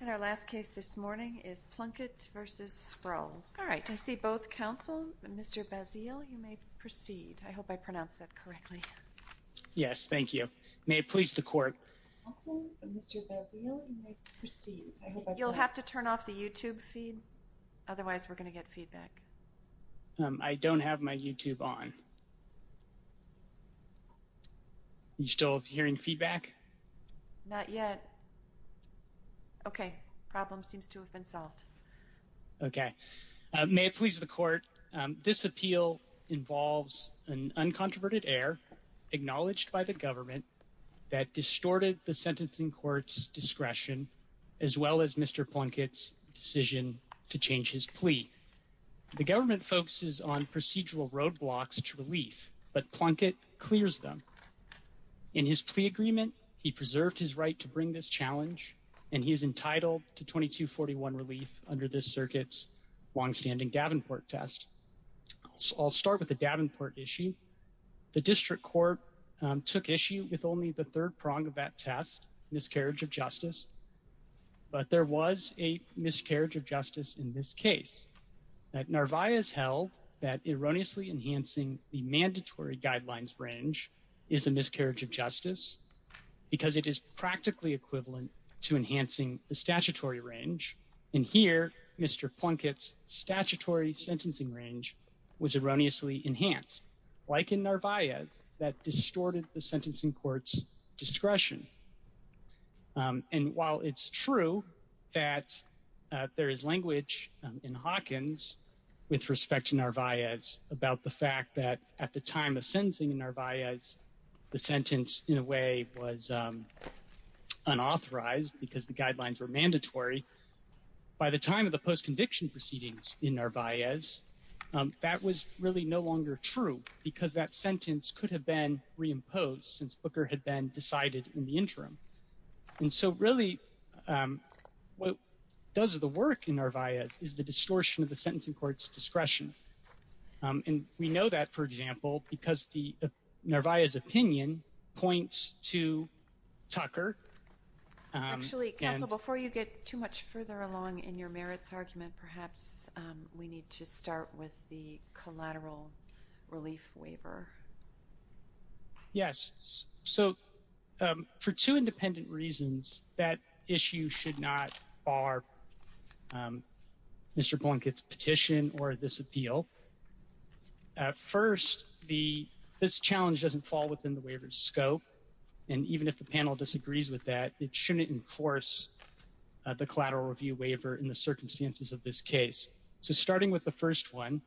And our last case this morning is Plunkett v. Sproul. All right, I see both counsel. Mr. Bazille, you may proceed. I hope I pronounced that correctly. Yes, thank you. May it please the court. Mr. Bazille, you may proceed. You'll have to turn off the YouTube feed. Otherwise, we're gonna get feedback. I don't have my YouTube on. You still hearing feedback? Not yet. Okay, problem seems to have been solved. Okay, may it please the court. This appeal involves an uncontroverted error acknowledged by the government that distorted the sentencing court's discretion as well as Mr. Plunkett's decision to change his plea. The government focuses on procedural roadblocks to relief, but Plunkett clears them. In his plea agreement, he preserved his right to bring this challenge and he's entitled to 2241 relief under this circuit's longstanding Davenport test. So I'll start with the Davenport issue. The district court took issue with only the third prong of that test, miscarriage of justice, but there was a miscarriage of justice in this case. Narvaez held that erroneously enhancing the mandatory guidelines range is a miscarriage of justice because it is practically equivalent to enhancing the statutory range. And here, Mr. Plunkett's statutory sentencing range was erroneously enhanced like in Narvaez that distorted the sentencing court's discretion. And while it's true that there is language in Hawkins with respect to Narvaez about the fact that at the time of sentencing in Narvaez, the sentence in a way was unauthorized because the guidelines were mandatory, by the time of the post-conviction proceedings in Narvaez, that was really no longer true because that sentence could have been reimposed since Booker had been decided in the interim. And so really what does the work in Narvaez is the distortion of the sentencing court's discretion. And we know that, for example, because the Narvaez opinion points to Tucker. Actually, counsel, before you get too much further along in your merits argument, perhaps we need to start with the collateral relief waiver. Yes. So for two independent reasons, that issue should not bar Mr. Blunkett's petition or this appeal. At first, this challenge doesn't fall within the waiver's scope. And even if the panel disagrees with that, it shouldn't enforce the collateral review waiver in the circumstances of this case. So starting with the first one,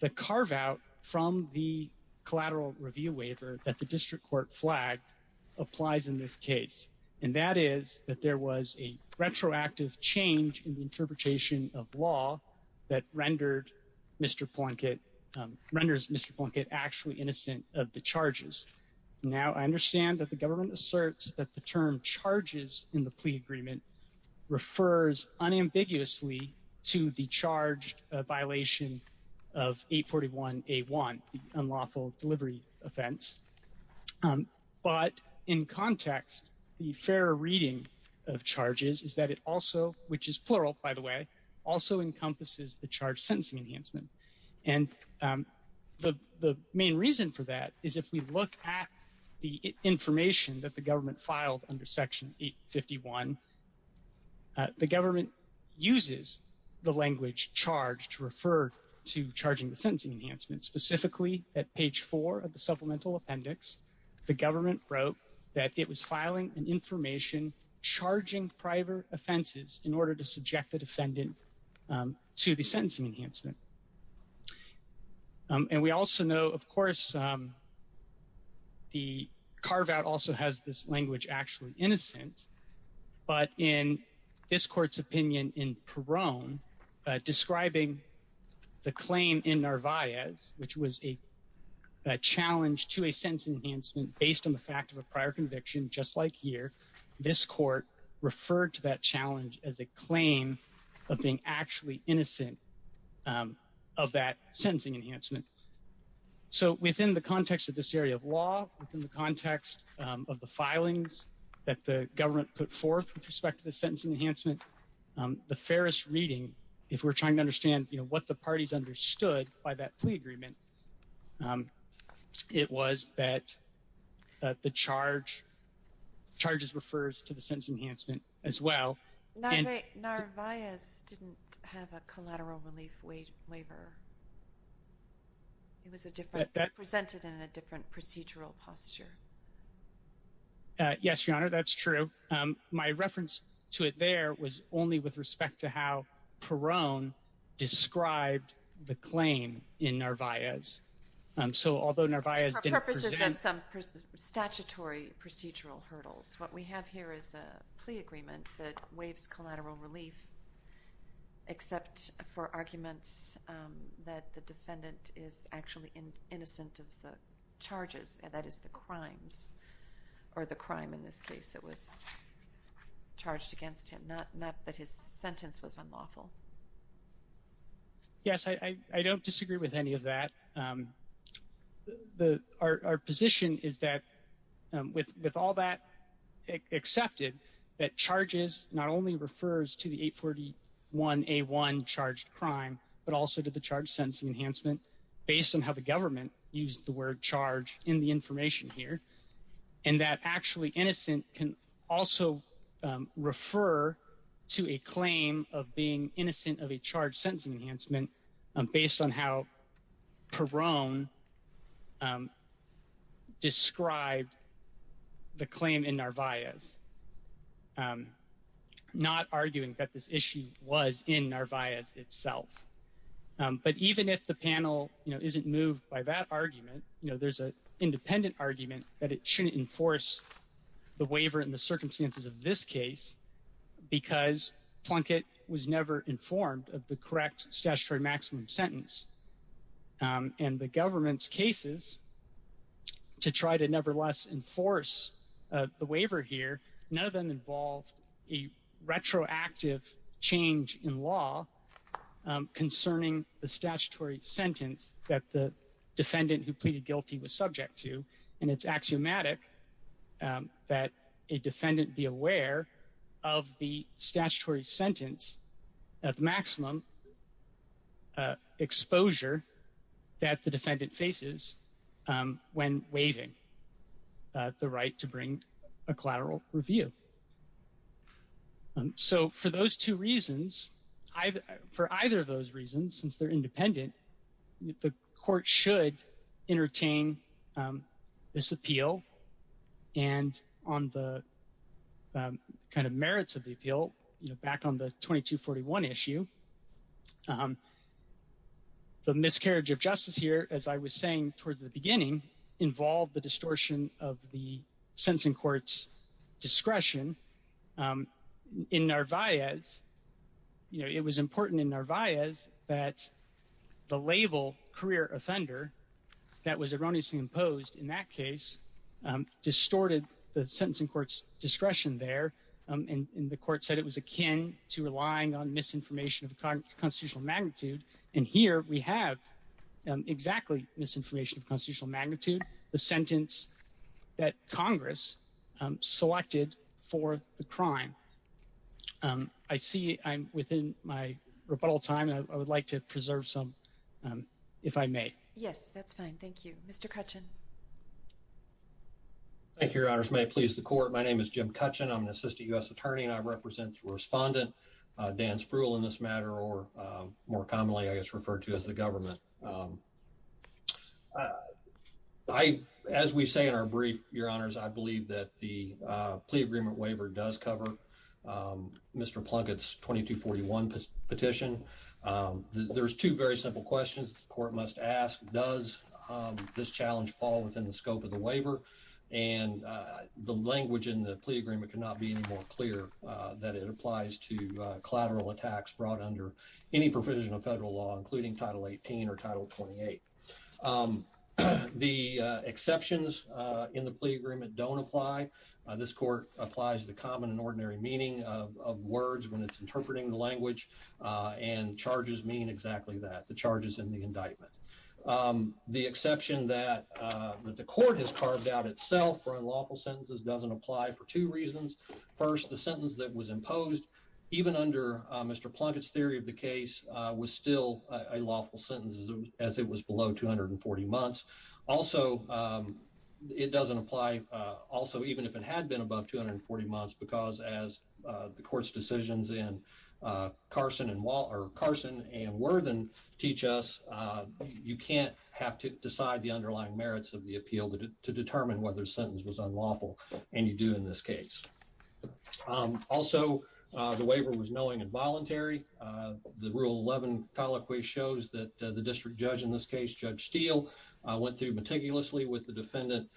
the carve out from the collateral review waiver that the district court flag applies in this case. And that is that there was a retroactive change in the interpretation of law that renders Mr. Blunkett actually innocent of the charges. Now, I understand that the government asserts that the term charges in the plea agreement refers unambiguously to the charge violation of 841A1, the unlawful delivery offense. But in context, the fair reading of charges is that it also, which is plural by the way, also encompasses the charge sentencing enhancement. And the main reason for that is if we look at the information that the government filed under section 851, the government uses the language charge to refer to charging the sentencing enhancement specifically at page four of the supplemental appendix, the government wrote that it was filing an information charging private offenses in order to subject the defendant to the sentencing enhancement. And we also know, of course, the carve out also has this language actually innocent, but in this court's opinion in Peron, describing the claim in Narvaez, which was a challenge to a sentence enhancement based on the fact of a prior conviction, just like here, this court referred to that challenge as a claim of being actually innocent of that sentencing enhancement. So within the context of this area of law, within the context of the filings that the government put forth with respect to the sentence enhancement, the fairest reading, if we're trying to understand, you know, what the parties understood by that plea agreement, it was that the charge, charges refers to the sentence enhancement as well. And- Narvaez didn't have a collateral relief waiver. It was a different, presented in a different procedural posture. Yes, Your Honor, that's true. My reference to it there was only with respect to how Peron described the claim in Narvaez. So although Narvaez didn't present- For purposes of some statutory procedural hurdles, what we have here is a plea agreement that waives collateral relief, except for arguments that the defendant is actually innocent of the charges, that is the crimes, or the crime in this case that was charged against him, not that his sentence was unlawful. Yes, I don't disagree with any of that. Our position is that with all that accepted, that charges not only refers to the 841A1 charged crime, but also to the charge sentencing enhancement based on how the government used the word charge in the information here. And that actually innocent can also refer to a claim of being innocent of a charge sentencing enhancement based on how Peron described the claim in Narvaez, not arguing that this issue was in Narvaez itself. But even if the panel, you know, isn't moved by that argument, you know, there's an independent argument that it shouldn't enforce the waiver in the circumstances of this case, because Plunkett was never informed of the correct statutory maximum sentence. And the government's cases, to try to nevertheless enforce the waiver here, none of them involved a retroactive change in law concerning the statutory sentence that the defendant who pleaded guilty was subject to. And it's axiomatic that a defendant be aware of the statutory sentence of maximum exposure that the defendant faces when waiving the right to bring a collateral review. So for those two reasons, for either of those reasons, since they're independent, the court should entertain this appeal and on the kind of merits of the appeal, you know, back on the 2241 issue. The miscarriage of justice here, as I was saying towards the beginning, involved the distortion of the sentencing court's discretion in Narvaez, you know, it was important in Narvaez that the label career offender that was erroneously imposed in that case distorted the sentencing court's discretion there. And the court said it was akin to relying on misinformation of constitutional magnitude. And here we have exactly misinformation of constitutional magnitude, the sentence that Congress selected for the crime. I see I'm within my rebuttal time. I would like to preserve some, if I may. Yes, that's fine. Thank you, Mr. Kutchin. Thank you, your honors. May it please the court. My name is Jim Kutchin. I'm an assistant U.S. attorney and I represent the respondent, Dan Spruill in this matter, or more commonly, I guess, referred to as the government. As we say in our brief, your honors, I believe that the plea agreement waiver does cover Mr. Plunkett's 2241 petition. There's two very simple questions the court must ask. Does this challenge fall within the scope of the waiver? And the language in the plea agreement could not be any more clear that it applies to collateral attacks brought under any provision of federal law, including Title 18 or Title 28. The exceptions in the plea agreement don't apply. This court applies the common and ordinary meaning of words when it's interpreting the language and charges mean exactly that, the charges in the indictment. The exception that the court has carved out itself for unlawful sentences doesn't apply for two reasons. First, the sentence that was imposed, even under Mr. Plunkett's theory of the case, was still a lawful sentence as it was below 240 months. Also, it doesn't apply, also even if it had been above 240 months, because as the court's decisions in Carson and Worthen teach us, you can't have to decide the underlying merits of the appeal to determine whether the sentence was unlawful, and you do in this case. Also, the waiver was knowing and voluntary. The Rule 11 colloquy shows that the district judge in this case, Judge Steele, went through meticulously with the defendant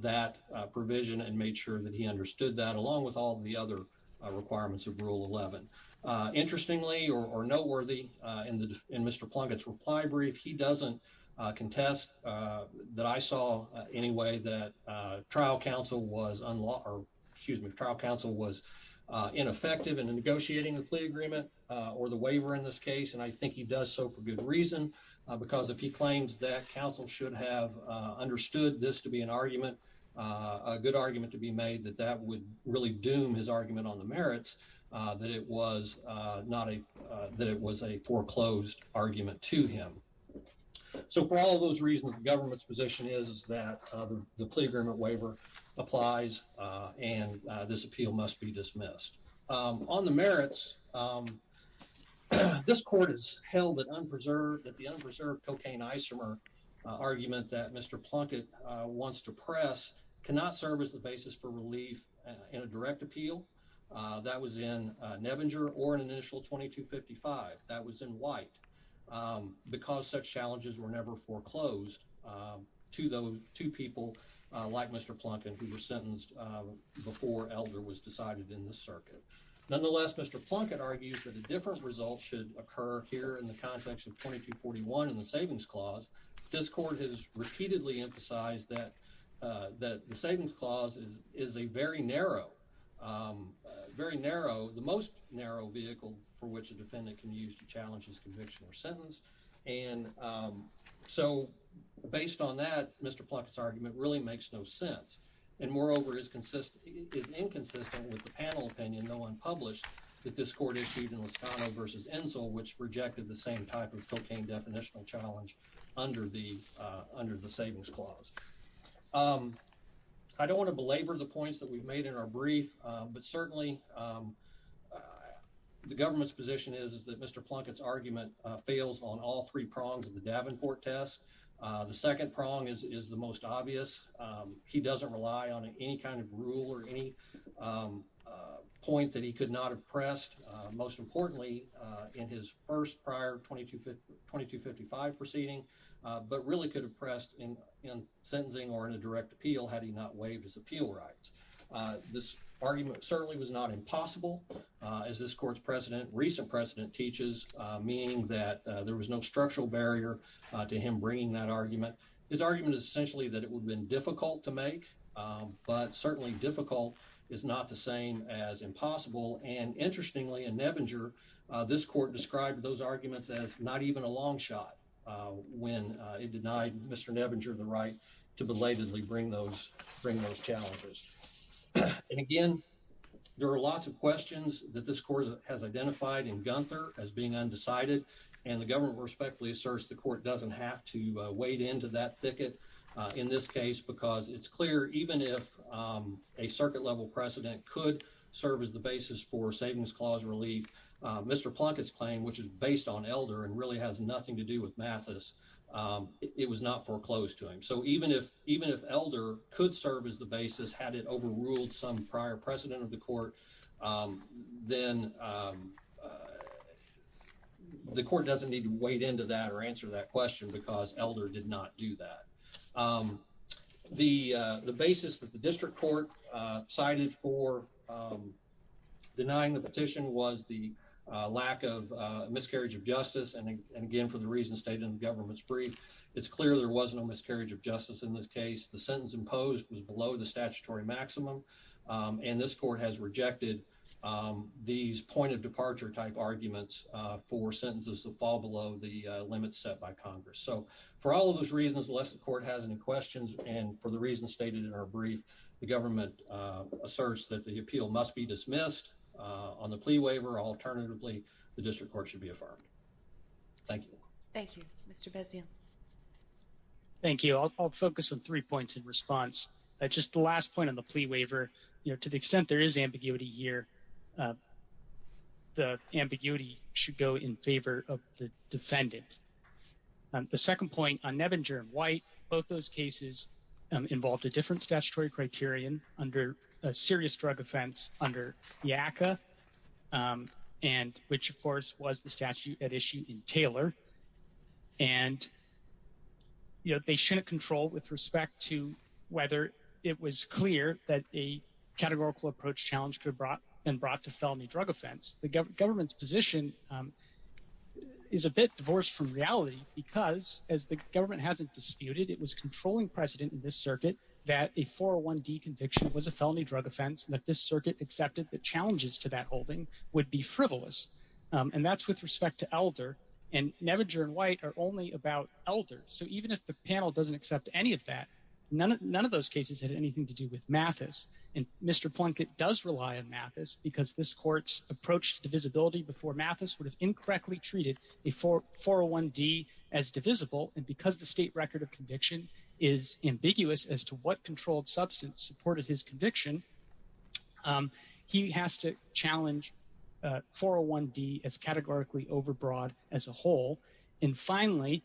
that provision and made sure that he understood that, along with all the other requirements of Rule 11. Interestingly, or noteworthy, in Mr. Plunkett's reply brief, he doesn't contest that I saw any way that trial counsel was unlawful, excuse me, trial counsel was ineffective in negotiating the plea agreement, or the waiver in this case, and I think he does so for good reason, because if he claims that counsel should have understood this to be an argument, a good argument to be made, that that would really doom his argument on the merits, that it was a foreclosed argument to him. So for all those reasons, the government's position is that the plea agreement waiver applies, and this appeal must be dismissed. On the merits, this court has held that unpreserved, that the unpreserved cocaine isomer argument that Mr. Plunkett wants to press cannot serve as the basis for relief in a direct appeal. That was in Nebinger or in an initial 2255, that was in White, because such challenges were never foreclosed to people like Mr. Plunkett, who was sentenced before Elder was decided in the circuit. Nonetheless, Mr. Plunkett argues that a different result should occur here in the context of 2241 in the Savings Clause. This court has repeatedly emphasized that the Savings Clause is a very narrow, very narrow, the most narrow vehicle for which a defendant can use to challenge and so based on that, Mr. Plunkett's argument really makes no sense, and moreover, is inconsistent with the panel opinion, though unpublished, that this court issued in Liscano versus Ensel, which rejected the same type of cocaine definitional challenge under the Savings Clause. I don't want to belabor the points that we've made in our brief, but certainly, the government's position is that Mr. Plunkett's argument fails on all three prongs of the Davenport test. The second prong is the most obvious. He doesn't rely on any kind of rule or any point that he could not have pressed, most importantly, in his first prior 2255 proceeding, but really could have pressed in sentencing or in a direct appeal had he not waived his appeal rights. This argument certainly was not impossible. As this court's precedent, recent precedent teaches, meaning that there was no structural barrier to him bringing that argument. His argument is essentially that it would have been difficult to make, but certainly difficult is not the same as impossible, and interestingly, in Nebinger, this court described those arguments as not even a long shot when it denied Mr. Nebinger the right to belatedly bring those challenges. And again, there are lots of questions that this court has identified in Gunther as being undecided, and the government respectfully asserts the court doesn't have to wade into that thicket in this case because it's clear, even if a circuit-level precedent could serve as the basis for savings clause relief, Mr. Plunkett's claim, which is based on Elder and really has nothing to do with Mathis, it was not foreclosed to him. So even if Elder could serve as the basis had it overruled some prior precedent of the court, then the court doesn't need to wade into that or answer that question because Elder did not do that. The basis that the district court cited for denying the petition was the lack of miscarriage of justice, and again, for the reasons stated in the government's brief, it's clear there was no miscarriage of justice in this case. The sentence imposed was below the statutory maximum, and this court has rejected these point-of-departure type arguments for sentences that fall below the limits set by Congress. So for all of those reasons, unless the court has any questions, and for the reasons stated in our brief, the government asserts that the appeal must be dismissed on the plea waiver. Alternatively, the district court should be affirmed. Thank you. Thank you. Mr. Bessio. Thank you. I'll focus on three points in response. Just the last point on the plea waiver, to the extent there is ambiguity here, the ambiguity should go in favor of the defendant. The second point on Nebinger and White, both those cases involved a different statutory criterion under a serious drug offense under YACA, and which, of course, was the statute at issue in Taylor, and they shouldn't control with respect to whether it was clear that a categorical approach challenge could have been brought to felony drug offense. The government's position is a bit divorced from reality, because as the government hasn't disputed, it was controlling precedent in this circuit that a 401D conviction was a felony drug offense, and that this circuit accepted the challenges to that holding would be frivolous. And that's with respect to Elder, and Nebinger and White are only about Elder. So even if the panel doesn't accept any of that, none of those cases had anything to do with Mathis, and Mr. Plunkett does rely on Mathis, because this court's approach to divisibility before Mathis would have incorrectly treated a 401D as divisible, and because the state record of conviction is ambiguous as to what controlled substance supported his conviction, he has to challenge 401D as categorically overbroad as a whole. And finally,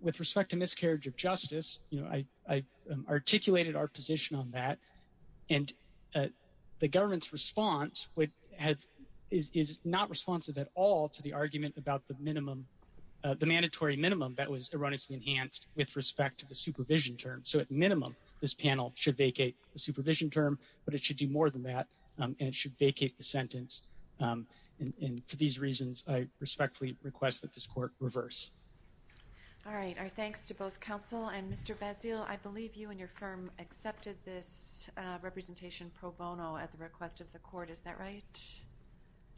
with respect to miscarriage of justice, I articulated our position on that, and the government's response is not responsive at all to the argument about the mandatory minimum that was erroneously enhanced with respect to the supervision term. So at minimum, this panel should vacate the supervision term, but it should do more than that, and it should vacate the sentence. And for these reasons, I respectfully request that this court reverse. All right, our thanks to both counsel and Mr. Bazille. I believe you and your firm accepted this representation pro bono at the request of the court, is that right?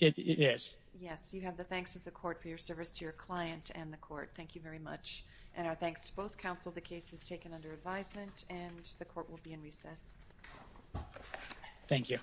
It is. Yes, you have the thanks of the court for your service to your client and the court. Thank you very much. And our thanks to both counsel. The case is taken under advisement, and the court will be in recess. Thank you.